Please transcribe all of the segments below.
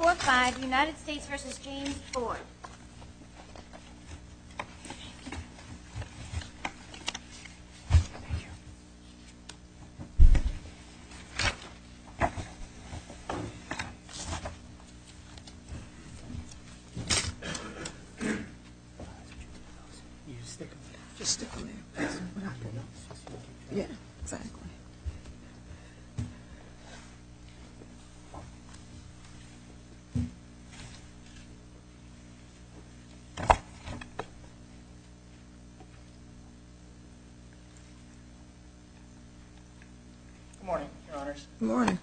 4-5 United States v. James Ford My name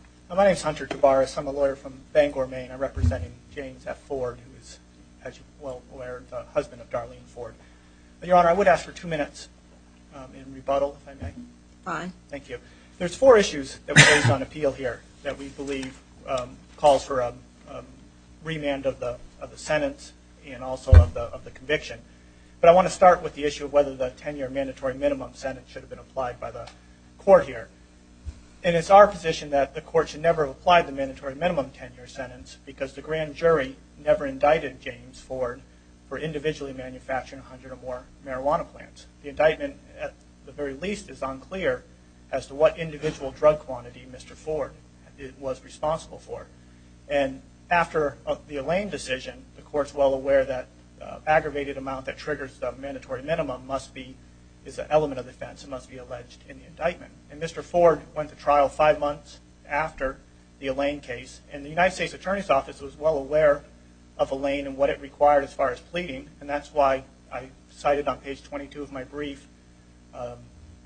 is Hunter Tabaris. I'm a lawyer from Bangor, Maine. I'm representing James F. Ford, who is, as you're well aware, the husband of Darlene Ford. Your Honor, I would ask for two minutes in rebuttal, if I may. Fine. Thank you. There's four issues that were raised on appeal here that we believe calls for a remand of the sentence and also of the conviction. But I want to start with the issue of whether the 10-year mandatory minimum sentence should have been applied by the court here. And it's our position that the court should never have applied the mandatory minimum 10-year sentence because the grand jury never indicted James Ford for individually manufacturing 100 or more marijuana plants. The indictment, at the very least, is unclear as to what individual drug quantity Mr. Ford was responsible for. And after the Allain decision, the court's well aware that the aggravated amount that triggers the mandatory minimum is an element of defense and must be alleged in the indictment. And Mr. Ford went to trial five months after the Allain case. And the United States Attorney's Office was well aware of Allain and what it required as far as pleading. And that's why I cited on page 22 of my brief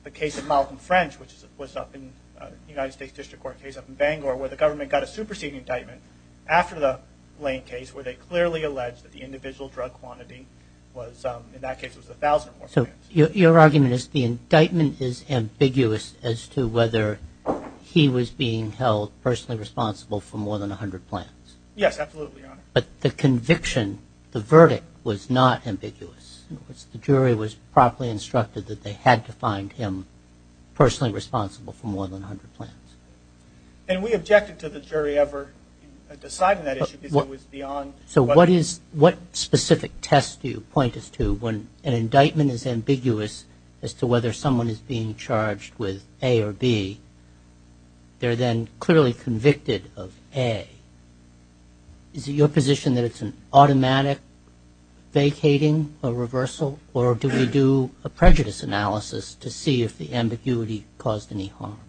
the case of Malcolm French, which was up in the United States District Court case up in Bangor, where the government got a superseding indictment after the Allain case where they clearly alleged that the individual drug quantity was, in that case, was 1,000 or more plants. So your argument is the indictment is ambiguous as to whether he was being held personally Yes, absolutely, Your Honor. But the conviction, the verdict, was not ambiguous. In other words, the jury was properly instructed that they had to find him personally responsible for more than 100 plants. And we objected to the jury ever deciding that issue because it was beyond So what specific test do you point us to when an indictment is ambiguous as to whether someone is being charged with A or B, they're then clearly convicted of A? Is it your position that it's an automatic vacating or reversal? Or do we do a prejudice analysis to see if the ambiguity caused any harm?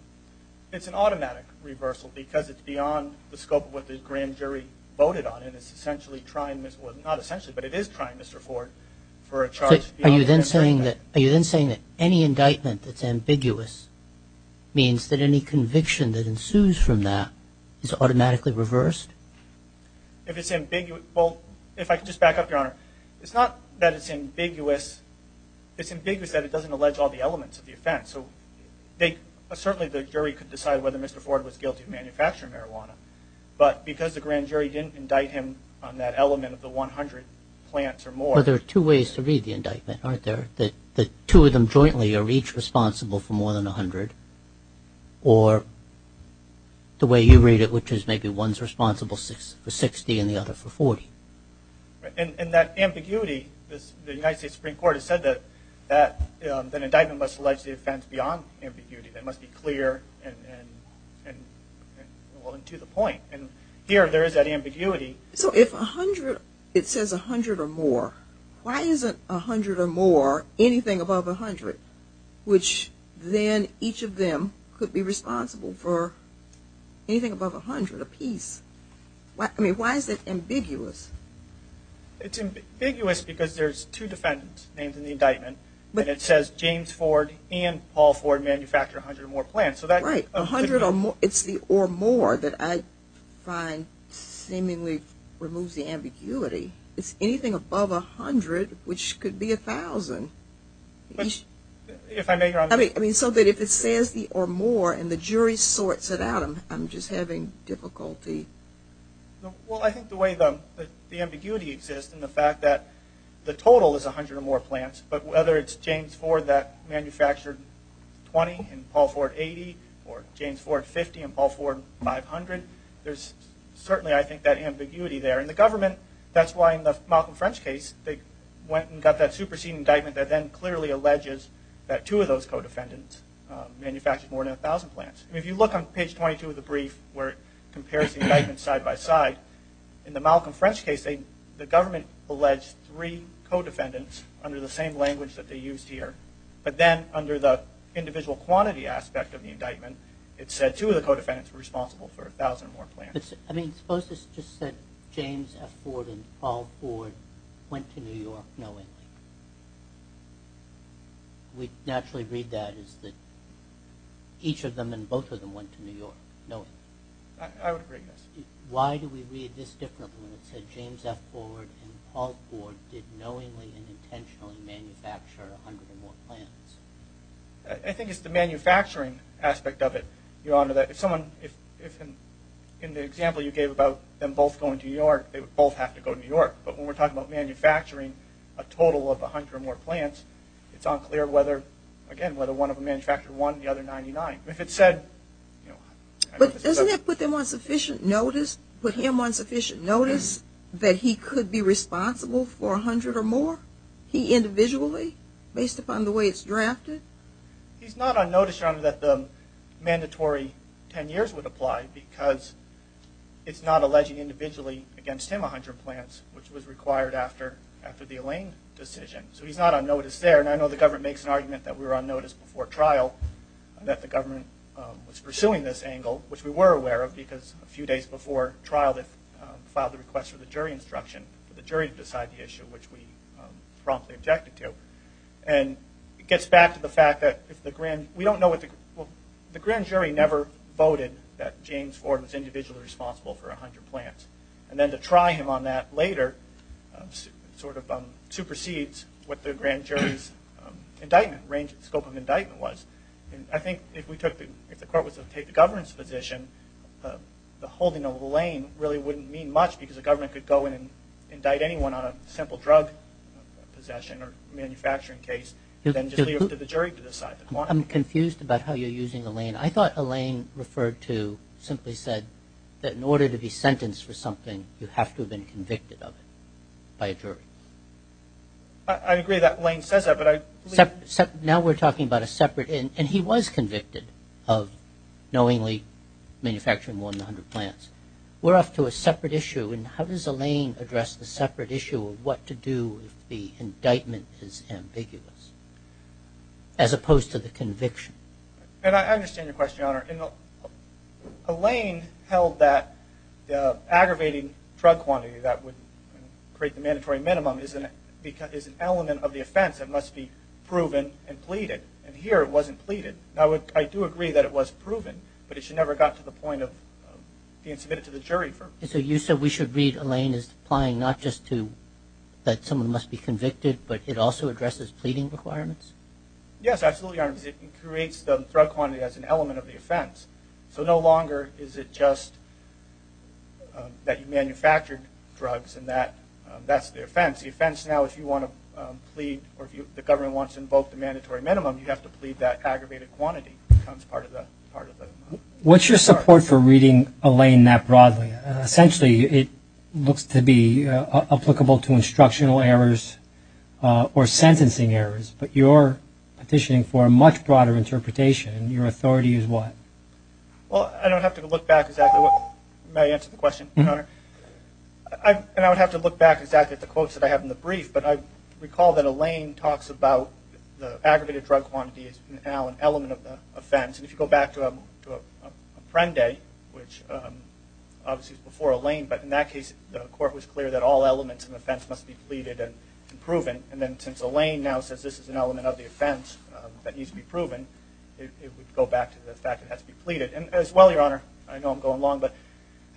It's an automatic reversal because it's beyond the scope of what the grand jury voted on. And it's essentially trying, well not essentially, but it is trying, Mr. Ford, for a charge beyond Any indictment that's ambiguous means that any conviction that ensues from that is automatically reversed? If it's ambiguous, well, if I could just back up, Your Honor, it's not that it's ambiguous, it's ambiguous that it doesn't allege all the elements of the offense. So they, certainly the jury could decide whether Mr. Ford was guilty of manufacturing marijuana. But because the grand jury didn't indict him on that element of the 100 plants or more Well, there are two ways to read the indictment, aren't there? That two of them jointly are each responsible for more than 100? Or the way you read it, which is maybe one's responsible for 60 and the other for 40? And that ambiguity, the United States Supreme Court has said that an indictment must allege the offense beyond ambiguity. That must be clear and well into the point. And here there is that ambiguity. So if 100, it says 100 or more, why isn't 100 or more anything above 100, which then each of them could be responsible for anything above 100 apiece? I mean, why is that ambiguous? It's ambiguous because there's two defendants named in the indictment, but it says James Ford and Paul Ford manufactured 100 or more plants. Right. 100 or more. It's the or more that I find seemingly removes the ambiguity. It's anything above 100, which could be 1,000. But if I may, Your Honor. I mean, so that if it says the or more and the jury sorts it out, I'm just having difficulty. Well, I think the way the ambiguity exists and the fact that the total is 100 or more plants, but whether it's James Ford that manufactured 20 and Paul Ford 80, or James Ford 50 and Paul Ford 500, there's certainly, I think, that ambiguity there. And the government, that's why in the Malcolm French case, they went and got that superseding indictment that then clearly alleges that two of those co-defendants manufactured more than 1,000 plants. If you look on page 22 of the brief, where it compares the indictments side by side, in the Malcolm French case, the government alleged three co-defendants under the same language that they used here. But then under the individual quantity aspect of the indictment, it said two of the co-defendants were responsible for 1,000 or more plants. I mean, suppose this just said James F. Ford and Paul Ford went to New York knowingly. We'd naturally read that as that each of them and both of them went to New York knowingly. I would agree with this. Why do we read this differently when it said James F. Ford and Paul Ford did knowingly and intentionally manufacture 100 or more plants? I think it's the manufacturing aspect of it, Your Honor, that if someone, if in the example you gave about them both going to New York, they would both have to go to New York. But when we're talking about manufacturing a total of 100 or more plants, it's unclear whether, again, whether one of them manufactured one and the other 99. If it said... But doesn't that put them on sufficient notice, put him on sufficient notice that he could be responsible for 100 or more, he individually, based upon the way it's drafted? He's not on notice, Your Honor, that the mandatory 10 years would apply because it's not alleging individually against him 100 plants, which was required after the Elaine decision. So he's not on notice there. And I know the government makes an argument that we were on notice before trial, that the government was pursuing this angle, which we were aware of because a few days before trial they filed the request for the jury instruction, for the jury to decide the issue which we promptly objected to. And it gets back to the fact that if the grand... We don't know what the... The grand jury never voted that James Ford was individually responsible for 100 plants. And then to try him on that later sort of supersedes what the grand jury's indictment, scope of indictment was. I think if we took the... If the court was to take the governance position, the holding of Elaine really wouldn't mean much because the government could go in and indict anyone on a simple drug possession or manufacturing case and then just leave it to the jury to decide. I'm confused about how you're using Elaine. I thought Elaine referred to, simply said, that in order to be sentenced for something you have to have been convicted of it by a jury. I agree that Elaine says that, but I... Now we're talking about a separate... And he was convicted of knowingly manufacturing more than 100 plants. We're off to a separate issue. And how does Elaine address the separate issue of what to do if the indictment is ambiguous as opposed to the conviction? And I understand your question, Your Honor. Elaine held that aggravating drug quantity that would create the mandatory minimum is an element of the offense that must be proven and pleaded. And here it wasn't pleaded. I do agree that it was proven, but it never got to the point of being submitted to the jury. So you said we should read Elaine as applying not just to that someone must be convicted, Yes, absolutely, Your Honor. It creates the drug quantity as an element of the offense. So no longer is it just that you manufactured drugs and that's the offense. The offense now, if you want to plead or if the government wants to invoke the mandatory minimum, you have to plead that aggravated quantity. It becomes part of the... What's your support for reading Elaine that broadly? Essentially, it looks to be applicable to instructional errors or sentencing errors. But you're petitioning for a much broader interpretation. Your authority is what? Well, I don't have to look back exactly. May I answer the question, Your Honor? And I would have to look back exactly at the quotes that I have in the brief. But I recall that Elaine talks about the aggravated drug quantity is now an element of the offense. And if you go back to Apprende, which obviously is before Elaine, but in that case the court was clear that all elements of the offense must be pleaded and proven. And then since Elaine now says this is an element of the offense that needs to be proven, it would go back to the fact that it has to be pleaded. And as well, Your Honor, I know I'm going long, but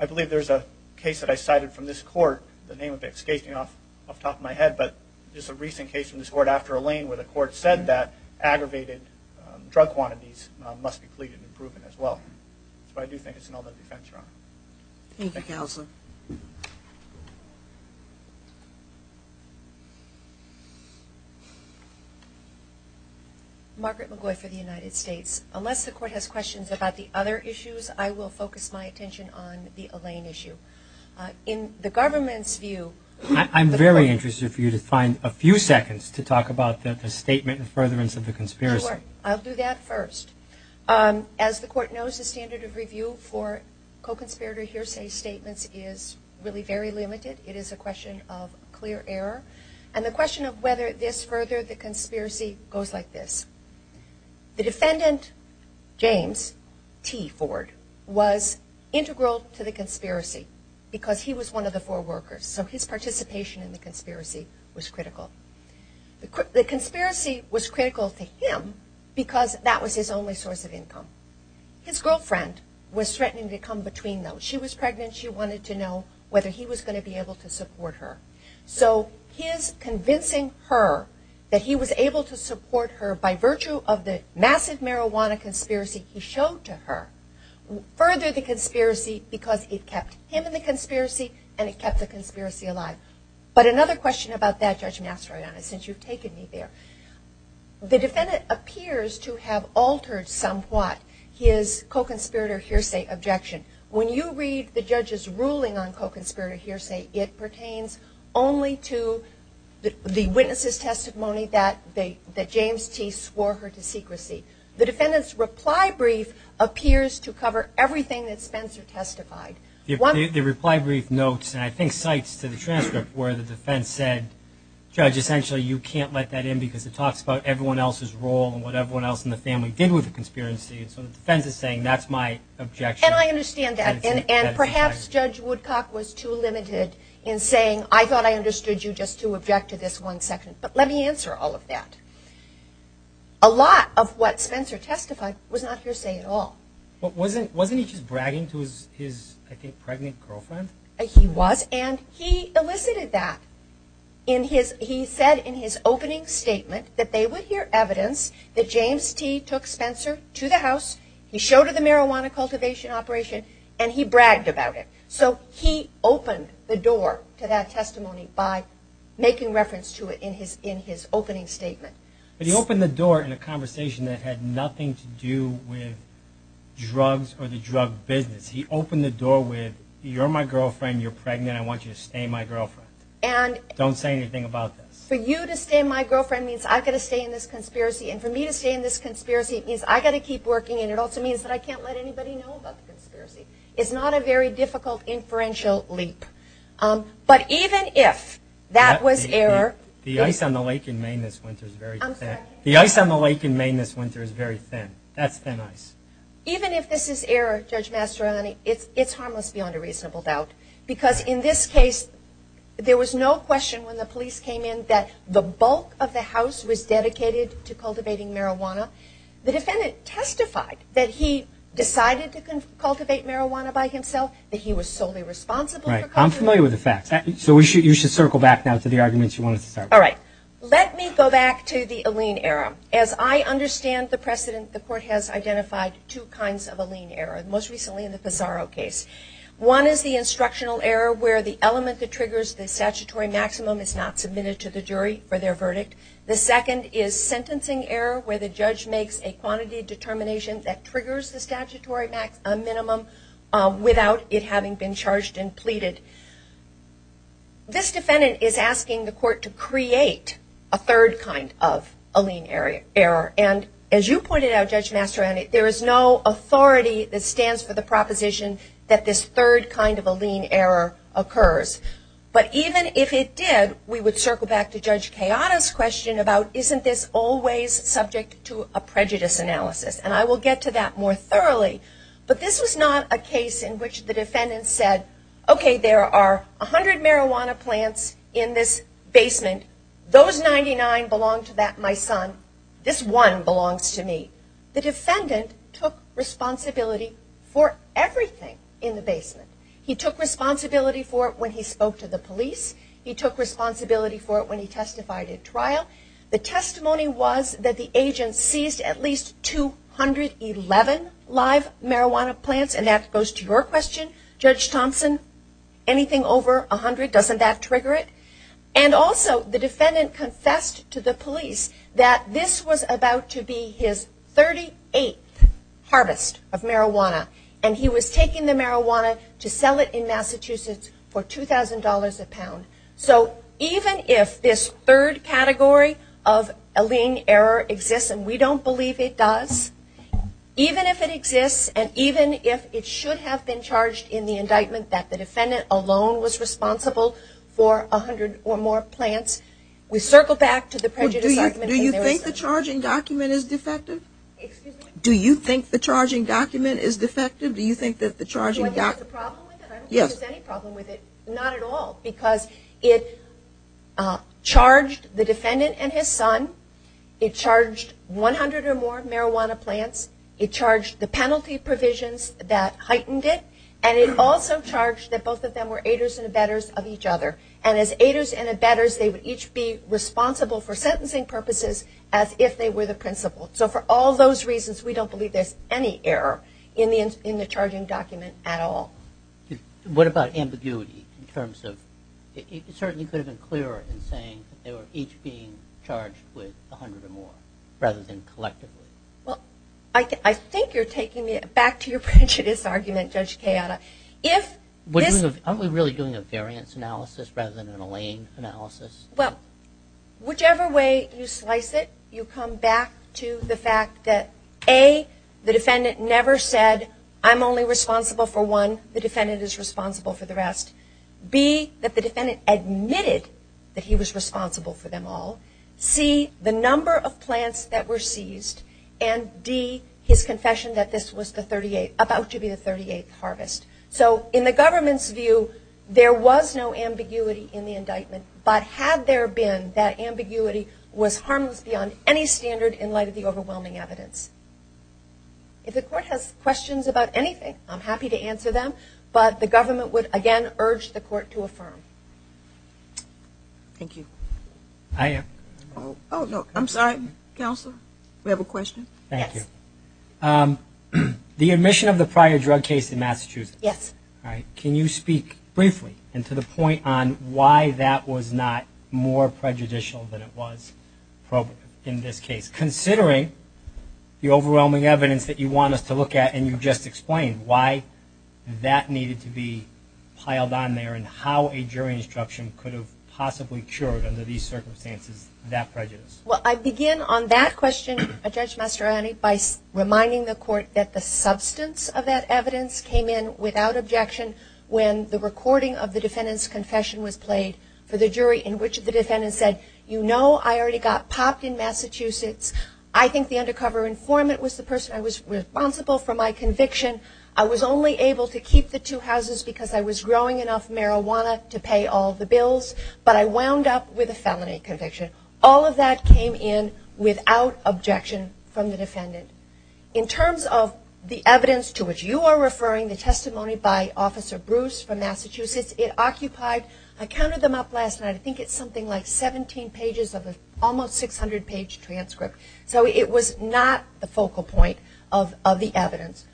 I believe there's a case that I cited from this court, the name would be escaping off the top of my head, but there's a recent case from this court after Elaine where the court said that aggravated drug quantities must be pleaded and proven as well. So I do think it's an element of the offense, Your Honor. Thank you, Counselor. Margaret McGoy for the United States. Unless the court has questions about the other issues, I will focus my attention on the Elaine issue. In the government's view, I'm very interested for you to find a few seconds to talk about the statement and furtherance of the conspiracy. Sure. I'll do that first. As the court knows, the standard of review for co-conspirator hearsay statements is really very limited. It is a question of clear error. And the question of whether this furthered the conspiracy goes like this. The defendant, James T. Ford, was integral to the conspiracy because he was one of the four workers. So his participation in the conspiracy was critical. The conspiracy was critical to him because that was his only source of income. His girlfriend was threatening to come between them. She was pregnant. She wanted to know whether he was going to be able to support her. So his convincing her that he was able to support her by virtue of the massive marijuana conspiracy he showed to her furthered the conspiracy because it kept him in the conspiracy and it kept the conspiracy alive. But another question about that, Judge Mastroianni, since you've taken me there. The defendant appears to have altered somewhat his co-conspirator hearsay objection. When you read the judge's ruling on co-conspirator hearsay, it pertains only to the witness's testimony that James T. swore her to secrecy. The defendant's reply brief appears to cover everything that Spencer testified. The reply brief notes, and I think cites to the transcript, where the defense said, Judge, essentially you can't let that in because it talks about everyone else's role and what everyone else in the family did with the conspiracy. So the defense is saying that's my objection. And I understand that. And perhaps Judge Woodcock was too limited in saying, I thought I understood you just to object to this one section. But let me answer all of that. A lot of what Spencer testified was not hearsay at all. Wasn't he just bragging to his, I think, pregnant girlfriend? He was, and he elicited that. He said in his opening statement that they would hear evidence that James T. took Spencer to the house, he showed her the marijuana cultivation operation, and he bragged about it. So he opened the door to that testimony by making reference to it in his opening statement. But he opened the door in a conversation that had nothing to do with drugs or the drug business. He opened the door with, you're my girlfriend, you're pregnant, I want you to stay my girlfriend. Don't say anything about this. means I've got to stay in this conspiracy and for me to stay in this conspiracy means I've got to keep working and it also means I can't let anybody know about the conspiracy. It's not a very difficult inferential leap. But even if that was error The ice on the lake in Maine this winter is very thin. The ice on the lake in Maine this winter is very thin. That's thin ice. Even if this is error, Judge Mastroianni, it's harmless beyond a reasonable doubt because in this case there was no question when the police came in that the bulk of the house was dedicated to cultivating marijuana. The defendant testified that he decided to cultivate marijuana by himself, that he was solely responsible for cultivating marijuana. I'm familiar with the facts. You should circle back to the arguments you wanted to start with. Let me go back to the Aleene error. As I understand the precedent, the court has identified two kinds of Aleene error, most recently in the Pizarro case. One is the instructional error where the element that triggers the statutory maximum is not submitted to the jury for their verdict. The second is sentencing error where the judge makes a quantity determination that triggers the statutory minimum without it having been charged and pleaded. This defendant is asking the court to create a third kind of Aleene error. As you pointed out, there is no authority that stands for the proposition that this third kind of Aleene error occurs. Even if it did, we would circle back to Judge Kayada's question about isn't this always subject to a prejudice analysis? I will get to that more thoroughly. This was not a case in which the defendant said, there are 100 marijuana plants in this basement. Those 99 belong to my son. This one belongs to me. The defendant took responsibility for everything in the basement. He took responsibility for it when he spoke to the police. He took responsibility for it when he testified at trial. The testimony was that the agent seized at least 211 live marijuana plants and that goes to your question, Judge Thompson, anything over 100, doesn't that trigger it? Also, the defendant confessed to the police that this was about to be his 38th harvest of marijuana. He was taking the marijuana to sell it in Massachusetts for $2,000 a pound. Even if this third category of Aleene error exists, and we don't believe it does, even if it exists and even if it should have been charged in the indictment that the defendant alone was responsible for 100 or more marijuana plants, we circle back to the prejudice argument. Do you think the charging document is defective? Do you think the charging document is defective? I don't think there's any problem with it. Not at all, because it charged the defendant and his son, it charged 100 or more marijuana plants, it charged the penalty provisions that heightened it, and it also charged that both of them were aiders and abettors of each other, and as aiders and abettors they would each be responsible for sentencing purposes as if they were the principal. So for all those reasons we don't believe there's any error in the charging document at all. What about ambiguity in terms of, it certainly could have been clearer in saying they were each being charged with 100 or more, rather than collectively. Well, I think you're taking me back to your prejudice argument Judge Kayada. Aren't we really doing a variance analysis rather than a lane analysis? Whichever way you slice it you come back to the fact that A, the defendant never said, I'm only responsible for one, the defendant is responsible for the rest. B, that the defendant admitted that he was responsible for them all. C, the number of plants that were seized, and D, his confession that this was the 38th harvest. So in the government's view, there was no ambiguity in the indictment, but had there been, that ambiguity was harmless beyond any standard in light of the overwhelming evidence. If the court has questions about anything I'm happy to answer them, but the government would again urge the court to affirm. Thank you. I'm sorry Counselor, we have a question. Thank you. The admission of the prior drug case in Massachusetts, can you speak briefly to the point on why that was not more prejudicial than it was in this case considering the overwhelming evidence that you want us to look at and you just explained why that needed to be piled on there and how a jury instruction could have possibly cured under these circumstances that prejudice. I begin on that question Judge Mastroianni by reminding the court that the substance of that evidence came in without objection when the recording of the defendant's confession was played for the jury in which the defendant said, you know I already got popped in Massachusetts I think the undercover informant was the person I was responsible for my conviction. I was only able to keep the two houses because I was growing enough marijuana to pay all the bills, but I wound up with a felony conviction. All of that came in without objection from the defendant. In terms of the evidence to which you are referring, the testimony by Officer Bruce from Massachusetts, it occupied I counted them up last night, I think it's something like 17 pages of almost 600 page transcript so it was not the focal point of the evidence.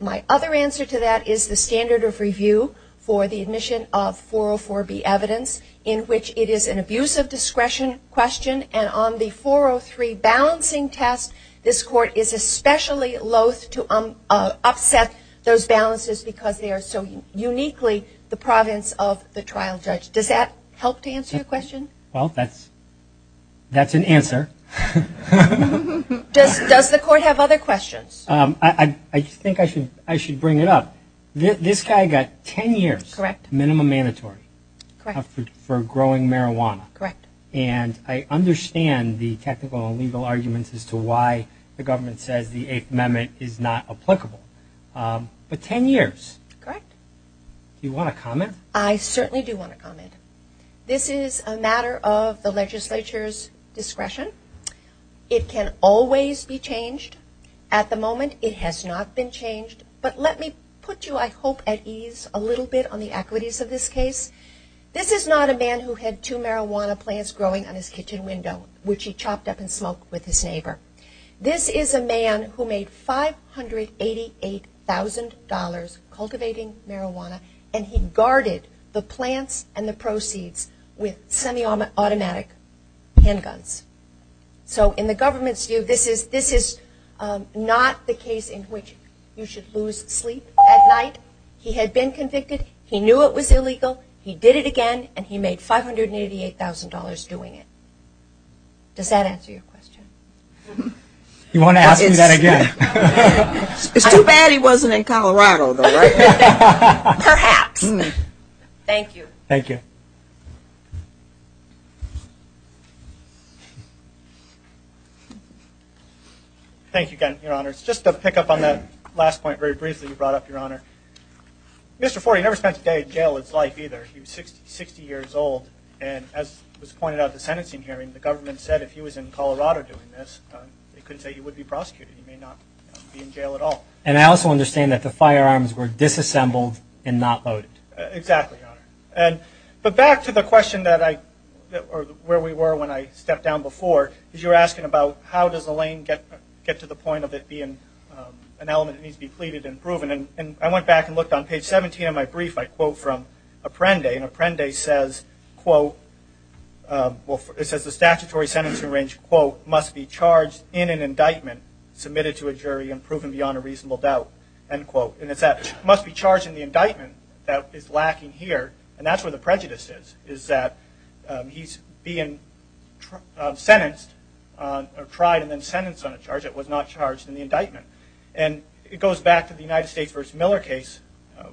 My other answer to that is the standard of review for the admission of 404B evidence in which it is an abuse of discretion question, and on the 403 balancing test, this court is especially loath to upset those balances because they are so uniquely the province of the trial judge. Does that help to answer your question? Well, that's an answer. Does the court have other questions? I think I should bring it up. This guy got 10 years minimum mandatory for growing marijuana, and I understand the technical and legal arguments as to why the government says the 8th Amendment is not applicable but 10 years. Do you want to comment? I certainly do want to comment. This is a matter of the legislature's discretion. It can always be changed. At the moment it has not been changed, but let me put you, I hope, at ease a little bit on the equities of this case. This is not a man who had two marijuana plants growing on his kitchen window, which he chopped up and smoked with his neighbor. This is a man who made $588,000 cultivating marijuana, and he guarded the plants and the proceeds with semi-automatic handguns. So in the government's view, this is not the case in which you should lose sleep at night. He had been he did it again, and he made $588,000 doing it. Does that answer your question? You want to ask me that again? It's too bad he wasn't in Colorado, though, right? Perhaps. Thank you. Thank you again, Your Honor. Just to pick up on that last point very briefly you brought up, Your Honor. Mr. Ford, he never spent a day in jail, his life, either. He was 60 years old, and as was pointed out at the sentencing hearing, the government said if he was in Colorado doing this, they couldn't say he would be prosecuted. He may not be in jail at all. And I also understand that the firearms were disassembled and not loaded. Exactly, Your Honor. But back to the question that I, or where we were when I stepped down before, is you were asking about how does a lane get to the point of it being an element that needs to be pleaded and proven. And I went back and looked on page 17 of my brief. I quote from Apprende. And Apprende says quote well, it says the statutory sentencing range, quote, must be charged in an indictment submitted to a jury and proven beyond a reasonable doubt, end quote. And it's that must be charged in the indictment that is lacking here. And that's where the prejudice is, is that he's being sentenced or tried and then sentenced on a charge that was not it goes back to the United States v. Miller case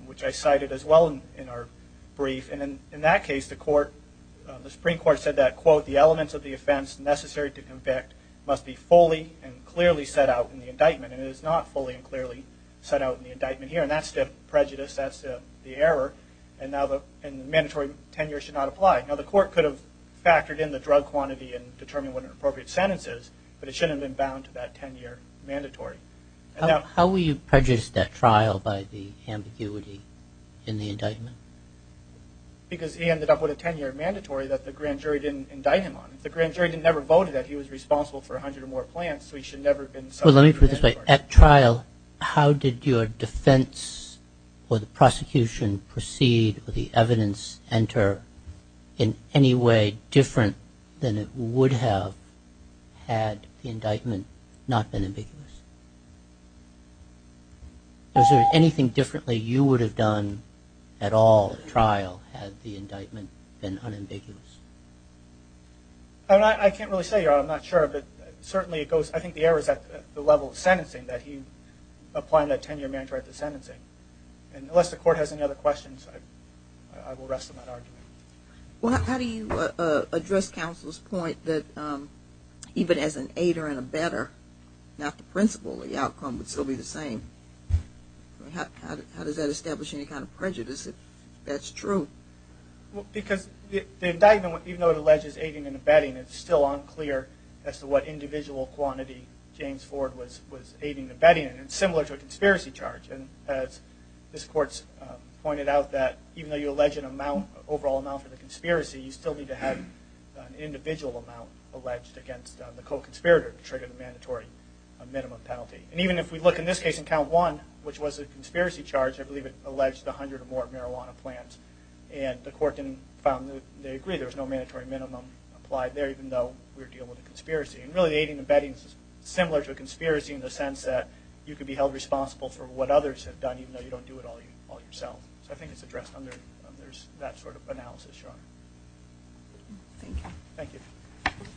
which I cited as well in our brief. And in that case the court, the Supreme Court said that quote, the elements of the offense necessary to convict must be fully and clearly set out in the indictment. And it is not fully and clearly set out in the indictment here. And that's the prejudice, that's the error. And now the mandatory tenure should not apply. Now the court could have factored in the drug quantity and determined what an appropriate sentence is but it shouldn't have been bound to that tenure mandatory. How will you prejudice that trial by the ambiguity in the indictment? Because he ended up with a tenure mandatory that the grand jury didn't indict him on. If the grand jury didn't ever vote that he was responsible for a hundred or more plants so he should never have been subject to a mandatory. At trial, how did your defense or the prosecution proceed or the evidence enter in any way different than it would have had the indictment not been ambiguous? Was there anything differently you would have done at all at trial had the indictment been unambiguous? I can't really say, I'm not sure, but certainly it goes, I think the error is at the level of sentencing that he applied that tenure mandatory to sentencing. And unless the court has any other questions, I will rest on that argument. Well, how do you address counsel's point that even as an aider and abetter not the principal, the outcome would still be the same? How does that establish any kind of prejudice if that's true? Because the indictment, even though it alleges aiding and abetting, it's still unclear as to what individual quantity James Ford was aiding and abetting, and it's similar to a conspiracy charge. And as this court's pointed out that even though you allege an overall amount for the individual amount alleged against the co-conspirator to trigger the mandatory minimum penalty. And even if we look in this case in count one, which was a conspiracy charge, I believe it alleged a hundred or more marijuana plants, and the court found that they agree there was no mandatory minimum applied there, even though we're dealing with a conspiracy. And really the aiding and abetting is similar to a conspiracy in the sense that you could be held responsible for what others have done, even though you don't do it all yourself. So I think it's addressed under that sort of analysis. Thank you. Thank you.